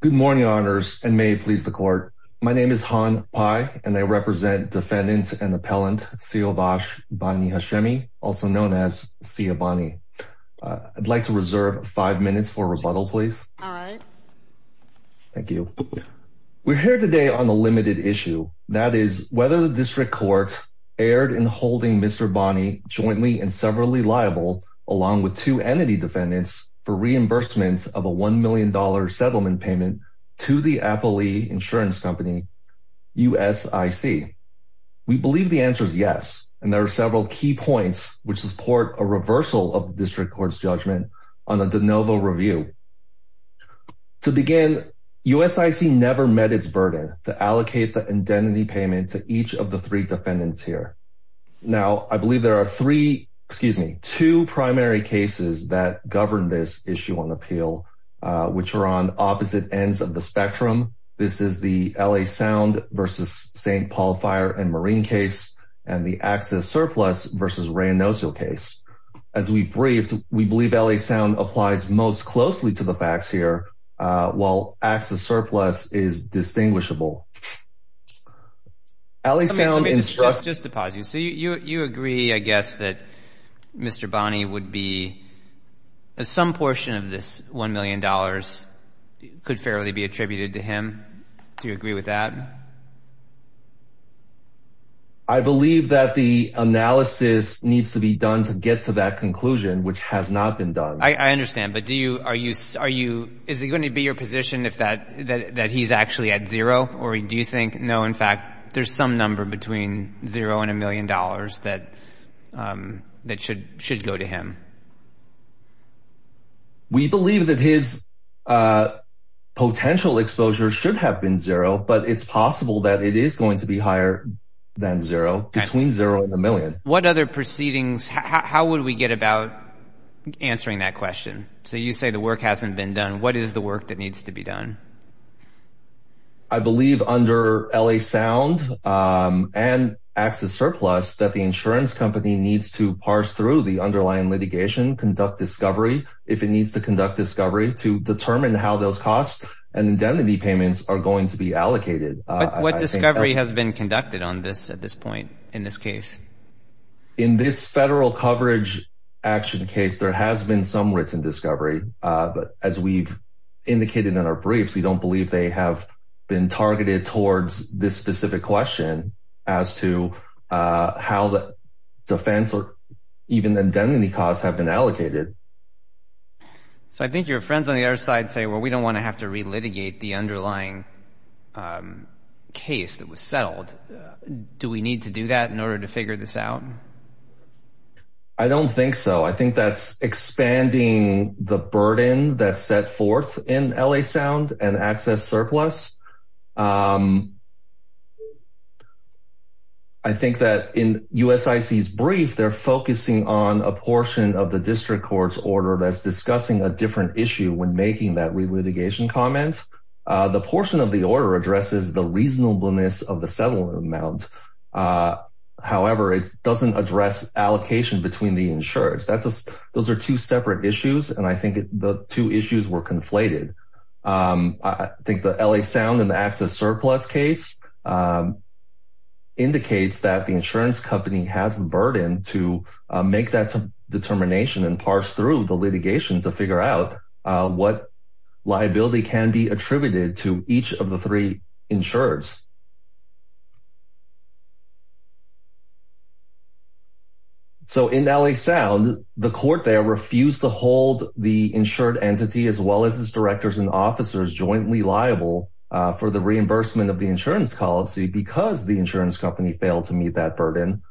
Good morning, honors and may it please the court. My name is Han Pai and I represent defendant and appellant Siovash Bani Hashemi, also known as Sia Bani. I'd like to reserve five minutes for rebuttal, please. All right. Thank you. We're here today on a limited issue, that is whether the district court erred in holding Mr. Bani jointly and severally liable along with two entity defendants for reimbursement of a $1 million settlement payment to the Appellee Insurance Company, USIC. We believe the answer is yes, and there are several key points which support a reversal of the district court's judgment on a de novo review. To begin, USIC never met its burden to allocate the identity payment to each of the three defendants here. Now, I believe there are three, excuse me, two primary cases that govern this issue on which are on opposite ends of the spectrum. This is the L.A. Sound versus St. Paul Fire and Marine case and the Axis Surplus versus Ray Nosial case. As we briefed, we believe L.A. Sound applies most closely to the facts here, while Axis Surplus is distinguishable. Just to pause you. So you agree, I guess, that Mr. Bani would be some portion of this $1 million could fairly be attributed to him. Do you agree with that? I believe that the analysis needs to be done to get to that conclusion, which has not been done. I understand. But do you, are you, are you, is it going to be your position if that, that he's actually at zero? Or do you think, no, in fact, there's some number between zero and a million? We believe that his potential exposure should have been zero, but it's possible that it is going to be higher than zero, between zero and a million. What other proceedings, how would we get about answering that question? So you say the work hasn't been done. What is the work that needs to be done? I believe under L.A. Sound and Axis Surplus that the insurance company needs to parse through the underlying litigation, conduct discovery, if it needs to conduct discovery to determine how those costs and indemnity payments are going to be allocated. What discovery has been conducted on this at this point in this case? In this federal coverage action case, there has been some written discovery, but as we've indicated in our briefs, we don't believe they have been targeted towards this specific question as to how the defense or even the indemnity costs have been allocated. So I think your friends on the other side say, well, we don't want to have to relitigate the underlying case that was settled. Do we need to do that in order to figure this out? I don't think so. I think that's expanding the burden that's Axis Surplus. I think that in USIC's brief, they're focusing on a portion of the district court's order that's discussing a different issue when making that relitigation comment. The portion of the order addresses the reasonableness of the settlement amount. However, it doesn't address allocation between the insurers. Those are two separate issues, and I think the two issues were conflated. I think the LA Sound and the Axis Surplus case indicates that the insurance company has the burden to make that determination and parse through the litigation to figure out what liability can be attributed to each of the three insurers. So in LA Sound, the court there refused to hold the insured entity, as well as its directors and officers, jointly liable for the reimbursement of the insurance policy because the insurance company failed to meet that burden.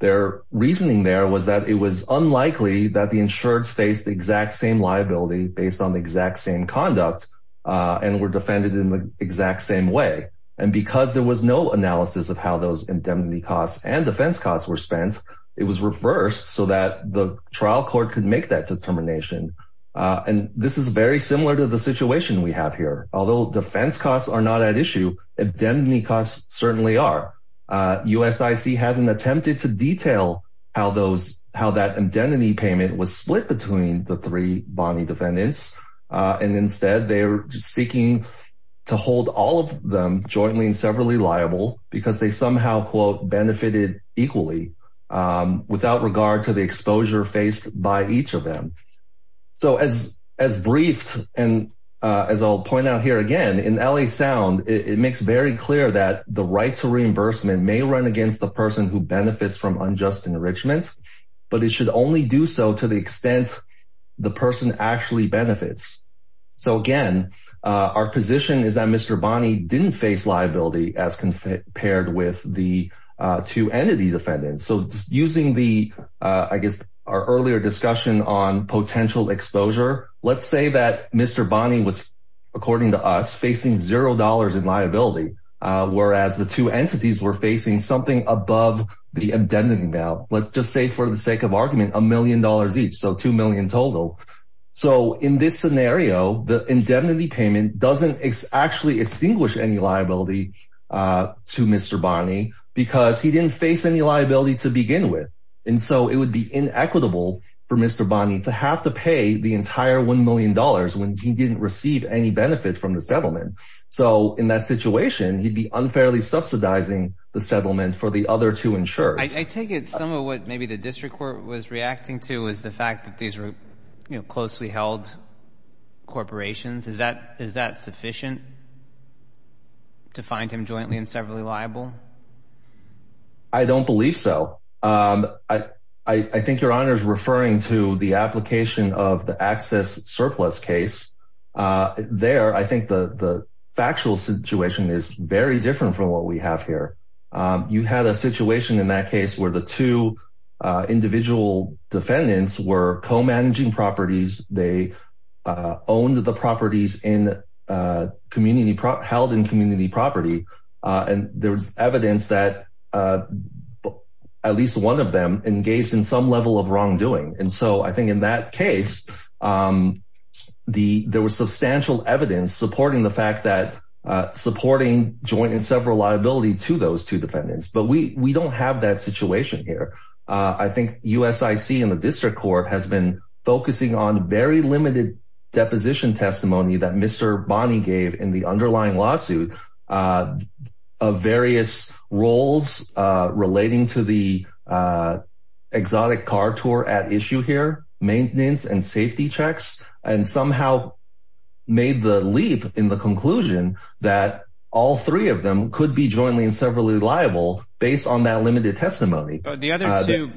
Their reasoning there was that it was unlikely that the insured faced the exact same liability based on the exact same conduct and were defended in the exact same way. And because there was no analysis of how those indemnity costs and defense costs were spent, it was reversed so that the trial court could make that determination. And this is very similar to the situation we have here. Although defense costs are not at issue, indemnity costs certainly are. USIC hasn't attempted to detail how that indemnity payment was split between the three bonding defendants, and instead they're seeking to hold all of them jointly and severally liable because they somehow, quote, benefited equally without regard to the exposure faced by each of them. So as briefed, and as I'll point out here again, in LA Sound, it makes very clear that the right to reimbursement may run against the person who benefits from unjust enrichment, but it should only do so to the extent the person actually benefits. So again, our position is that Mr. Bonney didn't face liability as compared with the two entity defendants. So using the, I guess, our earlier discussion on potential exposure, let's say that Mr. Bonney was, according to us, facing $0 in liability, whereas the two entities were facing something above the indemnity. Now, let's just say for the sake of argument, $1 million each, so $2 million total. So in this scenario, the indemnity payment doesn't actually extinguish any liability to Mr. Bonney because he didn't face any liability to begin with. And so it would be inequitable for Mr. Bonney to have to pay the entire $1 million when he didn't receive any benefit from the settlement. So in that situation, he'd be unfairly subsidizing the settlement for the other two insurers. I take it some of what maybe the district court was reacting to is the fact that these are closely held corporations. Is that sufficient to find him jointly and severally liable? I don't believe so. I think your Honor is referring to the application of the access surplus case. There, I think the factual situation is very different from what we have here. You had a situation in that case where the two individual defendants were co-managing properties. They owned the properties held in community property. And there was evidence that at least one of them engaged in some level of wrongdoing. And so I think in that case, there was substantial evidence supporting the fact that supporting joint and several liability to those two defendants. But we don't have that situation here. I think USIC and the district court has been focusing on very limited deposition testimony that Mr. Bonnie gave in the underlying lawsuit of various roles relating to the exotic car tour at issue here, maintenance and safety checks, and somehow made the leap in the conclusion that all three of them could be jointly and severally liable based on that limited testimony. The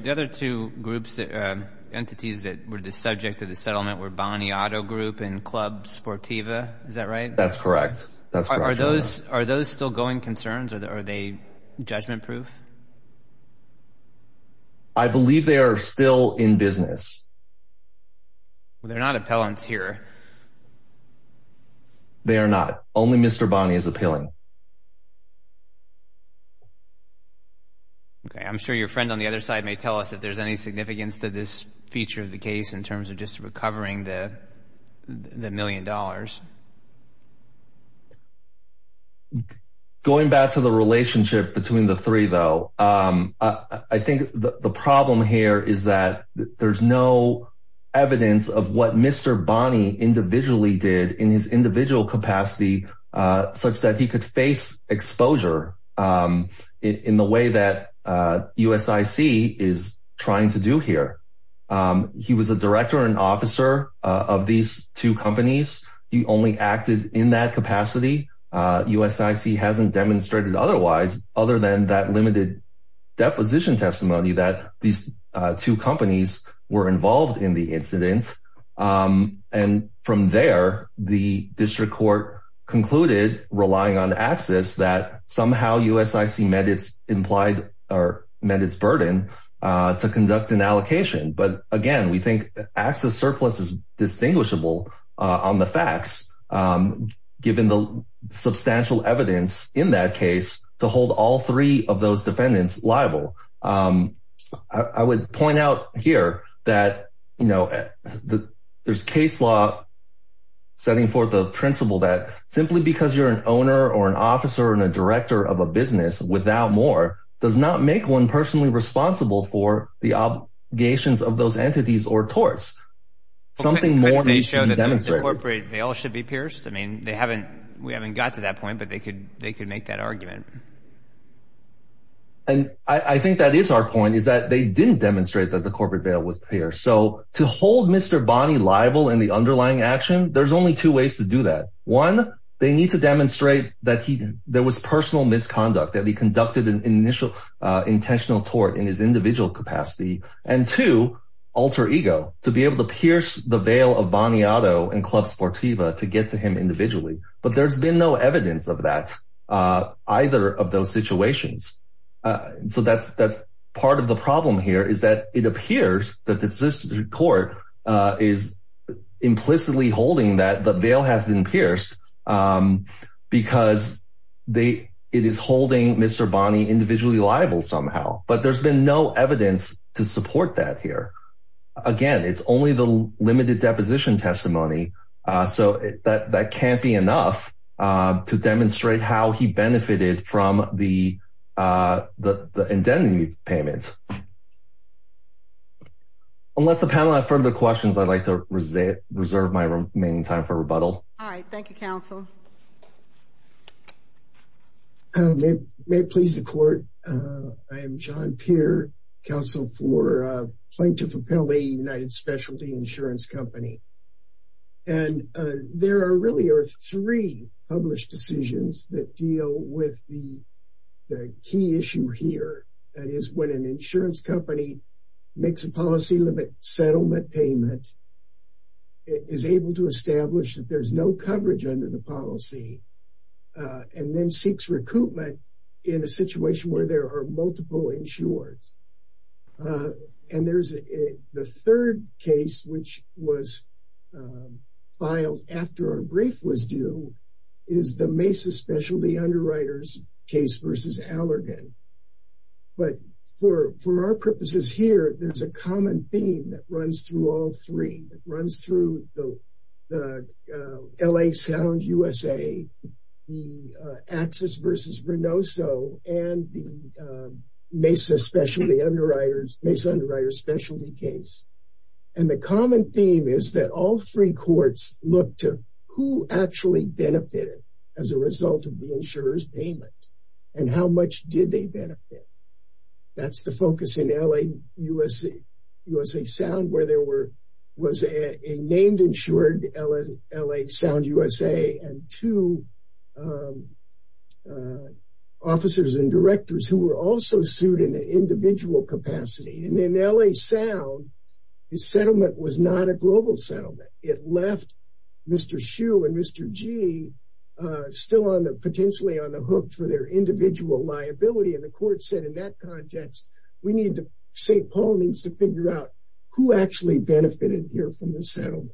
other two groups, entities that were the subject of the settlement were Bonnie Auto Group and Club Sportiva. Is that right? That's correct. Are those still going concerns? Are they judgment proof? I believe they are still in business. They're not appellants here. They are not. Only Mr. Bonnie is appealing. OK, I'm sure your friend on the other side may tell us if there's any significance to this feature of the case in terms of just recovering the million dollars. Going back to the relationship between the three, though, I think the problem here is that there's no evidence of what Mr. Bonnie individually did in his individual capacity such that he could face exposure in the way that USIC is trying to do here. He was a director and officer of these two companies. He only acted in that capacity. USIC hasn't demonstrated otherwise other than that limited deposition testimony that these two companies were involved in the incident. And from there, the district court concluded relying on access that somehow USIC met its implied or met its burden to conduct an allocation. But again, we think access surplus is distinguishable on the facts, given the substantial evidence in that case to hold all three of those defendants liable. I would point out here that, you know, there's case law setting forth the principle that simply because you're an owner or an officer and a director of a business without more does not make one personally responsible for the obligations of those entities or torts. Something more than they show that demonstrate they all should be pierced. I mean, they haven't we haven't got to that point, but they could they could make that argument. And I think that is our point, is that they didn't demonstrate that the corporate veil was here. So to hold Mr. Bonnie liable in the underlying action, there's only two ways to do that. One, they need to demonstrate that there was personal misconduct, that he conducted an initial intentional tort in his individual capacity and to alter ego to be able to pierce the veil of Bonnie Otto and Club Sportiva to get to him individually. But there's been no evidence of that. Either of those situations. So that's part of the problem here is that it appears that the court is implicitly holding that the veil has been pierced because they it is holding Mr. Bonnie individually liable somehow. But there's been no evidence to support that here. Again, it's only the limited deposition testimony. So that can't be enough to demonstrate how he benefited from the indemnity payment. Unless the panel have further questions, I'd like to reserve my remaining time for rebuttal. All right. Thank you, counsel. May it please the court. I am John Peer, counsel for plaintiff appellee United Specialty Insurance Company. And there are really are three published decisions that deal with the key issue here. That is when an insurance company makes a policy limit settlement payment is able to establish that there's no coverage under the policy and then seeks recoupment in a situation where there are multiple insured. And there's the third case, which was filed after our brief was due, is the Mesa Specialty Underwriters case versus Allergan. But for our purposes here, there's a common theme that runs through all three. It runs through the L.A. Sound U.S.A., the Axis versus Reynoso, and the Mesa Specialty Underwriters, Mesa Underwriters specialty case. And the common theme is that all three courts look to who actually benefited as a result of the insurer's payment and how much did they benefit. That's the focus in L.A. U.S.A., U.S.A. insured L.A. Sound U.S.A. and two officers and directors who were also sued in an individual capacity. And in L.A. Sound, the settlement was not a global settlement. It left Mr. Hsu and Mr. Gee still on the potentially on the hook for their individual liability. And the court said in that context, we need to say Paul needs to figure out who actually benefited here from the settlement.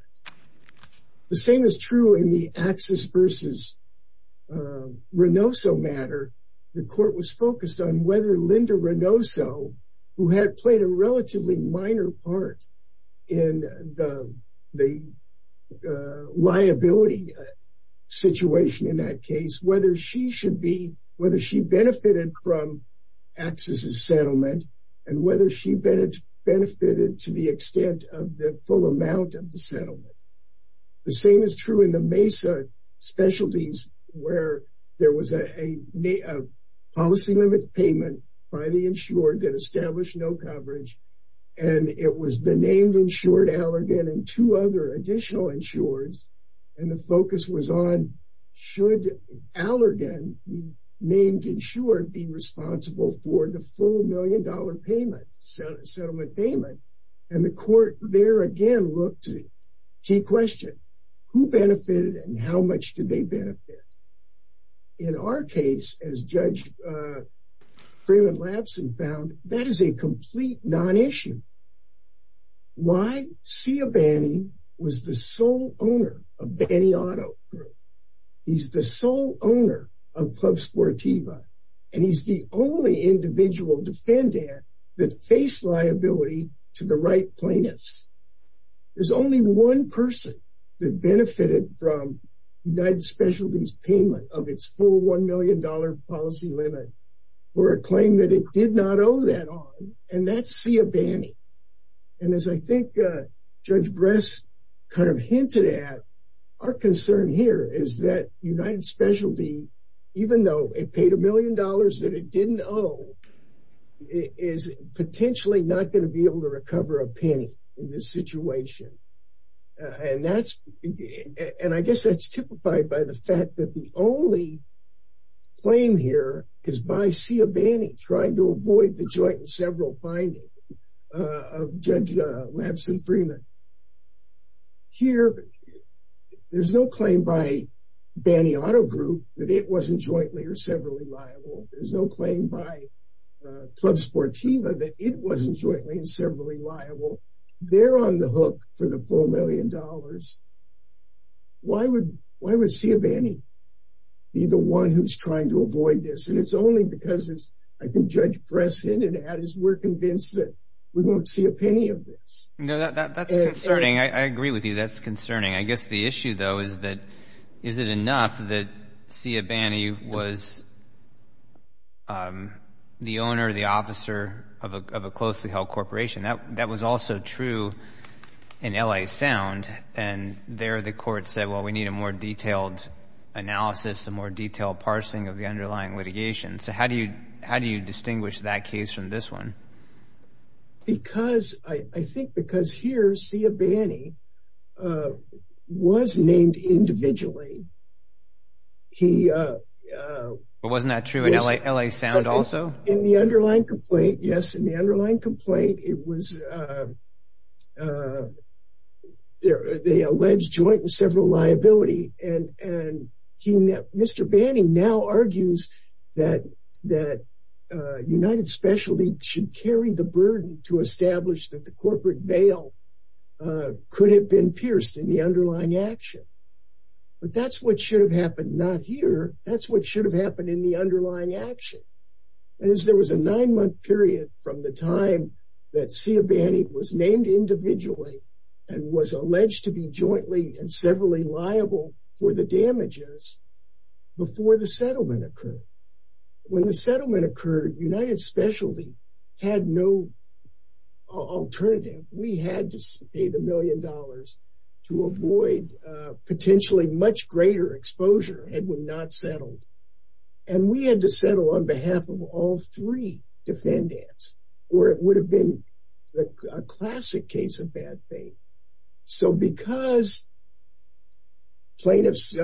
The same is true in the Axis versus Reynoso matter. The court was focused on whether Linda Reynoso, who had played a relatively minor part in the liability situation in that case, whether she should be, whether she benefited from Axis' settlement and whether she benefited to the extent of the full amount of the settlement. The same is true in the Mesa specialties where there was a policy limit payment by the insured that established no coverage. And it was the named insured Allergan and two other additional insureds. And the focus was on should Allergan, named insured, be responsible for the full million dollar payment, settlement payment. And the court there again looked to the key question, who benefited and how much did they benefit? In our case, as Judge Freeman Lapson found, that is a complete nonissue. Why? Sia Banney was the sole owner of Banney Auto Group. He's the sole owner of Club Sportiva, and he's the only individual defendant that faced liability to the right plaintiffs. There's only one person that benefited from United Specialties payment of its full one million dollar policy limit for a claim that it did not owe that on, and that's Sia Banney. And as I think Judge Bress kind of hinted at, our concern here is that United Specialty, even though it paid a million dollars that it didn't owe, is potentially not going to be able to recover a penny in this situation. And that's, and I guess that's typified by the fact that the only claim here is by Sia Banney trying to avoid the joint and several findings of Judge Lapson Freeman. Here, there's no claim by Banney Auto Group that it wasn't jointly or severally liable. There's no claim by Club Sportiva that it wasn't jointly and severally liable. They're on the hook for the full million dollars. Why would Sia Banney be the one who's trying to avoid this? And it's only because, as I think Judge Bress hinted at, is we're convinced that we won't see a penny of this. No, that's concerning. I agree with you. That's concerning. I guess the issue, though, is that, is it enough that Sia Banney was the owner, the officer of a closely held corporation? That was also true in LA Sound. And there, the court said, well, we need a more detailed analysis, a more detailed parsing of the underlying litigation. So how do you distinguish that case from this one? Because, I think because here, Sia Banney was named individually. He... But wasn't that true in LA Sound also? In the underlying complaint, yes. In the underlying complaint, it was the alleged joint and several liability. And Mr. Banney now argues that United Specialty should carry the burden to establish that the corporate veil could have been pierced in the underlying action. But that's what should have happened. Not here. That's what should have happened in the underlying action. And as there was a nine month period from the time that Sia Banney was named individually and was alleged to be jointly and severally liable for the damages before the settlement occurred, when the settlement occurred, United Specialty had no alternative. We had to pay the million dollars to avoid potentially much greater exposure had we not settled. And we had to settle on behalf of all three defendants, or it would have been a classic case of bad faith. So because plaintiff's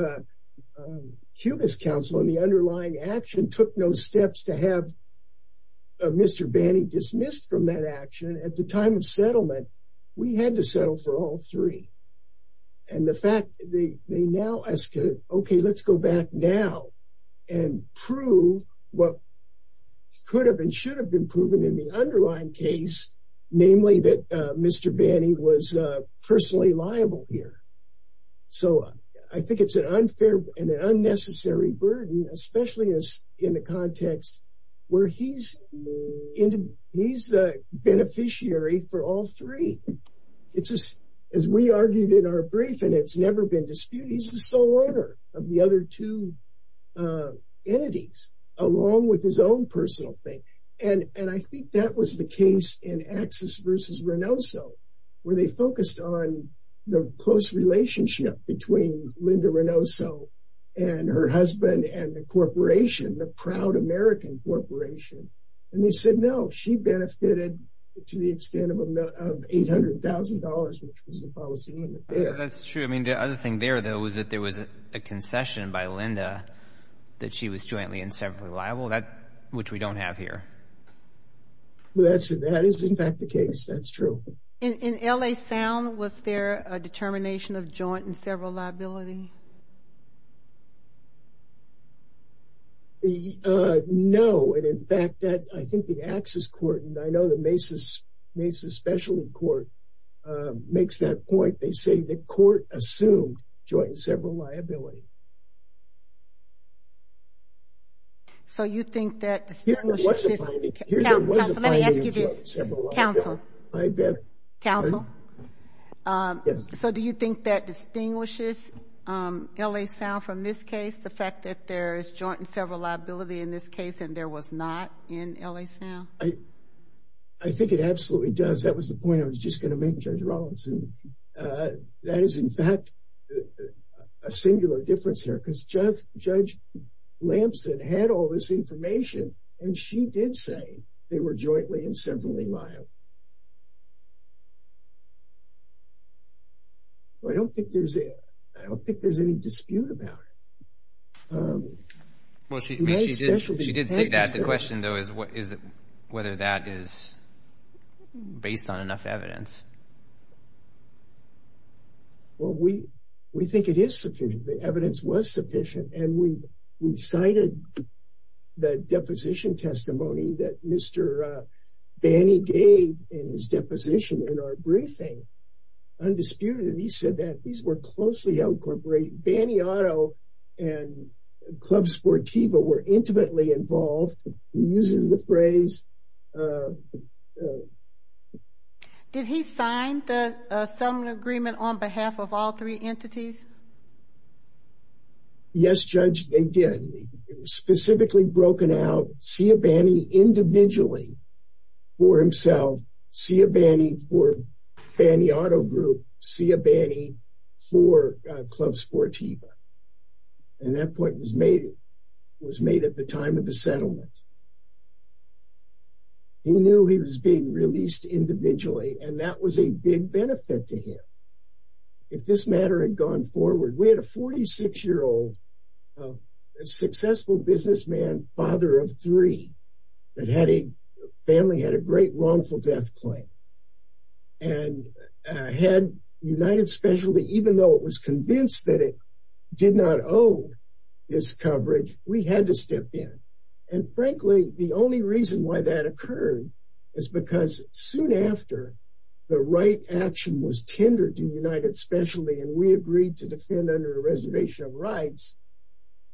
Cuba's counsel in the underlying action took no steps to have Mr. Banney dismissed from that action at the time of settlement, we had to settle for all three. And the fact that they now ask, OK, let's go back now and prove what could have been should have been proven in the underlying case, namely that Mr. Banney was personally liable here. So I think it's an unfair and an unnecessary burden, especially in the context where he's the beneficiary for all three. As we argued in our brief, and it's never been disputed, he's the sole owner of the other two entities, along with his own personal thing. And I think that was the case in Axis versus Renoso, where they focused on the close relationship between Linda Renoso and her husband and the corporation, the Proud American Corporation. And they said, no, she benefited to the extent of $800,000, which was the policy limit there. That's true. I mean, the other thing there, though, was that there was a concession by Linda that she was jointly and separately liable, which we don't have here. That is, in fact, the case. That's true. In L.A. Sound, was there a determination of joint and several liability? No. And, in fact, I think the Axis court, and I know the Mesa Specialty Court makes that point. They say the court assumed joint and several liability. So you think that distinguishes? Here there was a finding of joint and several liability. Counsel, let me ask you this. Counsel. I beg your pardon? Counsel. So do you think that distinguishes L.A. Sound from this case? The fact that there is joint and several liability in this case, and there was not in L.A. Sound? I think it absolutely does. That was the point I was just going to make, Judge Rawlinson. That is, in fact, a singular difference here, because Judge Lamson had all this information, and she did say they were jointly and separately liable. So I don't think there's any dispute about it. Well, she did say that. The question, though, is whether that is based on enough evidence. Well, we think it is sufficient. The evidence was sufficient, and we cited the deposition testimony that Mr. Banny gave in his deposition in our briefing. Undisputed, he said that these were closely incorporated. Banny Auto and Club Sportiva were intimately involved. He uses the phrase. Did he sign the settlement agreement on behalf of all three entities? Yes, Judge, they did. It was specifically broken out. See a Banny individually for himself. See a Banny for Banny Auto Group. See a Banny for Club Sportiva. And that point was made at the time of the settlement. He knew he was being released individually, and that was a big benefit to him. If this matter had gone forward, we had a 46-year-old, a successful businessman, father of three, that had a family, had a great wrongful death claim, and had United Specialty, even though it was convinced that it did not owe his coverage, we had to step in. And frankly, the only reason why that occurred is because soon after the right action was tendered to United Specialty, and we agreed to defend under a reservation of rights,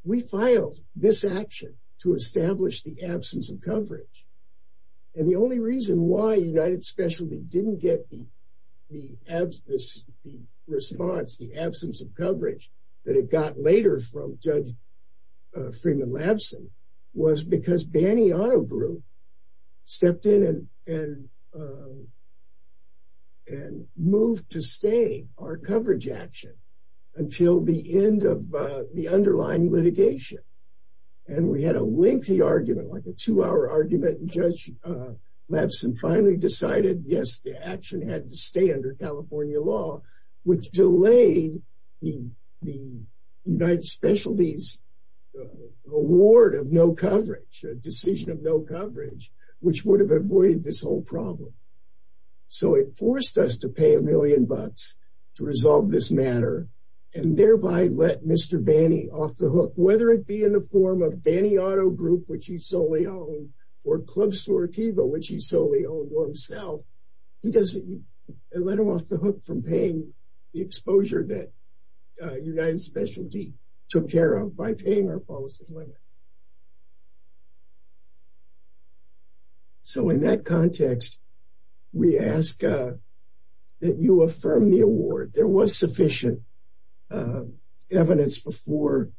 we filed this action to establish the absence of coverage. And the only reason why United Specialty didn't get the response, the absence of coverage, that it got later from Judge Freeman-Labson was because Banny Auto Group stepped in and moved to stay our coverage action until the end of the underlying litigation. And we had a lengthy argument, like a two-hour argument. Judge Labson finally decided, yes, the action had to stay under California law, which delayed the United Specialty's award of no coverage, a decision of no coverage, which would have avoided this whole problem. So it forced us to pay a million bucks to resolve this matter, and thereby let Mr. Banny off the hook. Whether it be in the form of Banny Auto Group, which he solely owned, or Club Store Tivo, which he solely owned, or himself, it let him off the hook from paying the exposure that United Specialty took care of by paying our policy limit. So in that context, we ask that you affirm the award. There was sufficient evidence before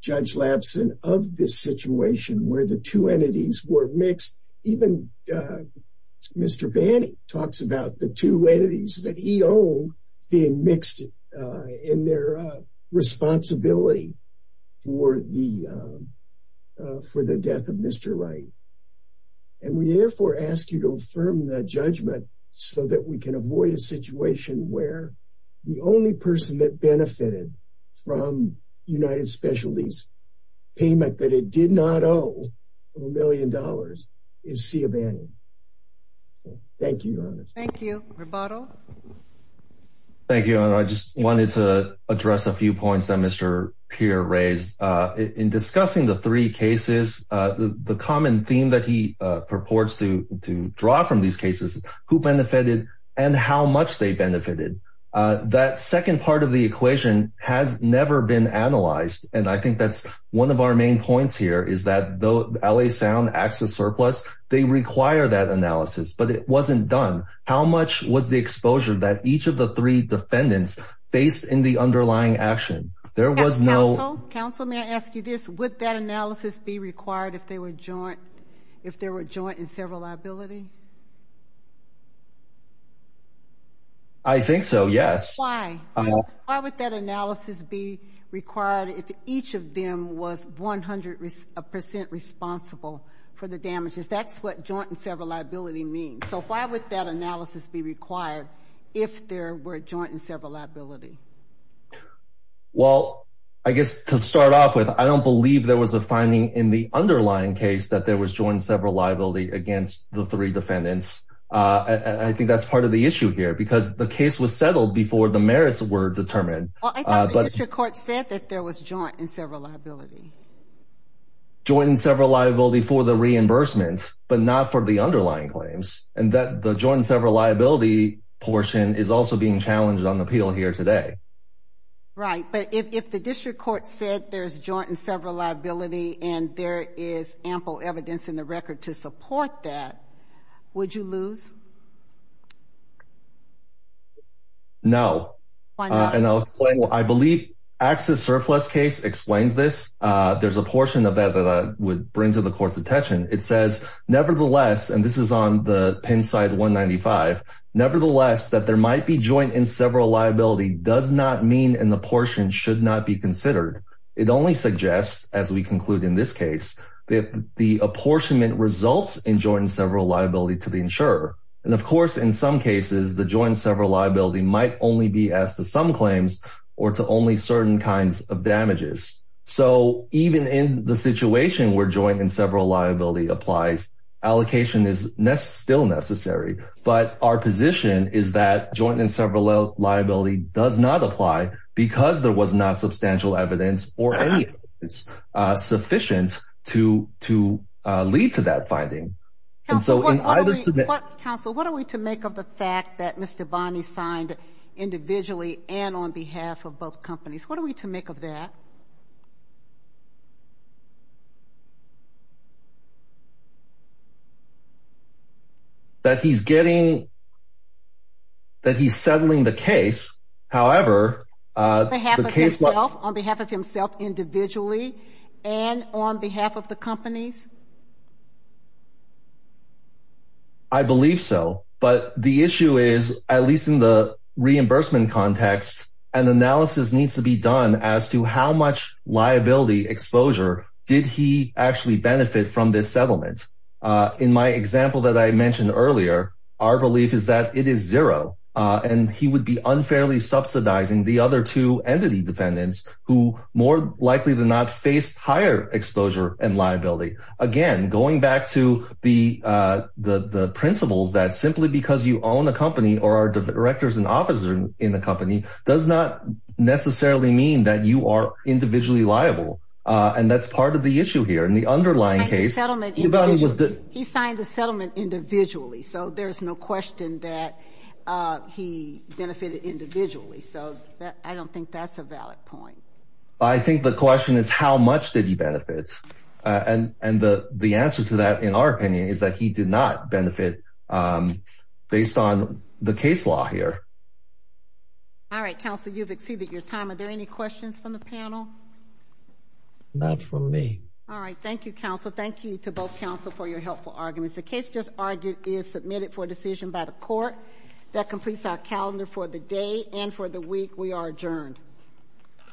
Judge Labson of this situation where the two entities were mixed. Even Mr. Banny talks about the two entities that he owned being mixed in their responsibility for the death of Mr. Wright. And we therefore ask you to affirm that judgment so that we can avoid a situation where the only person that benefited from United Specialty's payment that it did not owe of a million dollars is Cia Banny. Thank you, Your Honor. Thank you. Rebuttal. Thank you, Your Honor. I just wanted to address a few points that Mr. Peer raised. In discussing the three cases, the common theme that he purports to draw from these cases, who benefited and how much they benefited, that second part of the equation has never been analyzed. And I think that's one of our main points here is that though LA Sound acts as surplus, they require that analysis. But it wasn't done. How much was the exposure that each of the three defendants faced in the underlying action? There was no- Counsel, may I ask you this? Would that analysis be required if they were joint, if there were joint and several liability? I think so, yes. Why? Why would that analysis be required if each of them was 100 percent responsible for the damages? That's what joint and several liability means. So why would that analysis be required if there were joint and several liability? Well, I guess to start off with, I don't believe there was a finding in the underlying case that there was joint and several liability against the three defendants. I think that's part of the issue here because the case was settled before the merits were determined. Well, I thought the district court said that there was joint and several liability. Joint and several liability for the reimbursement, but not for the underlying claims. And that the joint and several liability portion is also being challenged on the appeal here today. Right. But if the district court said there's joint and several liability and there is ample evidence in the record to support that, would you lose? No. And I'll explain. I believe access surplus case explains this. There's a portion of that that would bring to the court's attention. It says, nevertheless, and this is on the Pennside 195, nevertheless, that there might be joint and several liability does not mean in the portion should not be considered. It only suggests, as we conclude in this case, that the apportionment results in joint and several liability to the insurer. And of course, in some cases, the joint and several liability might only be asked to some claims or to only certain kinds of damages. So even in the situation where joint and several liability applies, allocation is still necessary. But our position is that joint and several liability does not apply because there was not substantial evidence or any sufficient to lead to that finding. Counsel, what are we to make of the fact that Mr. Bonney signed individually and on behalf of both companies? What are we to make of that? That he's getting. That he's settling the case, however, on behalf of himself individually and on behalf of the companies. I believe so. But the issue is, at least in the reimbursement context, an analysis needs to be done as to how much liability exposure did he actually benefit from this settlement? In my example that I mentioned earlier, our belief is that it is zero and he would be unfairly subsidizing the other two entity defendants who more likely than not faced higher exposure and liability. Again, going back to the principles that simply because you own a company or are directors and officers in the company does not necessarily mean that you are individually liable. And that's part of the issue here in the underlying case. He signed the settlement individually. So there's no question that he benefited individually. So I don't think that's a valid point. I think the question is, how much did he benefit? And the answer to that, in our opinion, is that he did not benefit based on the case law here. All right, counsel, you've exceeded your time. Are there any questions from the panel? Not from me. All right. Thank you, counsel. Thank you to both counsel for your helpful arguments. The case just argued is submitted for decision by the court. That completes our calendar for the day and for the week. We are adjourned.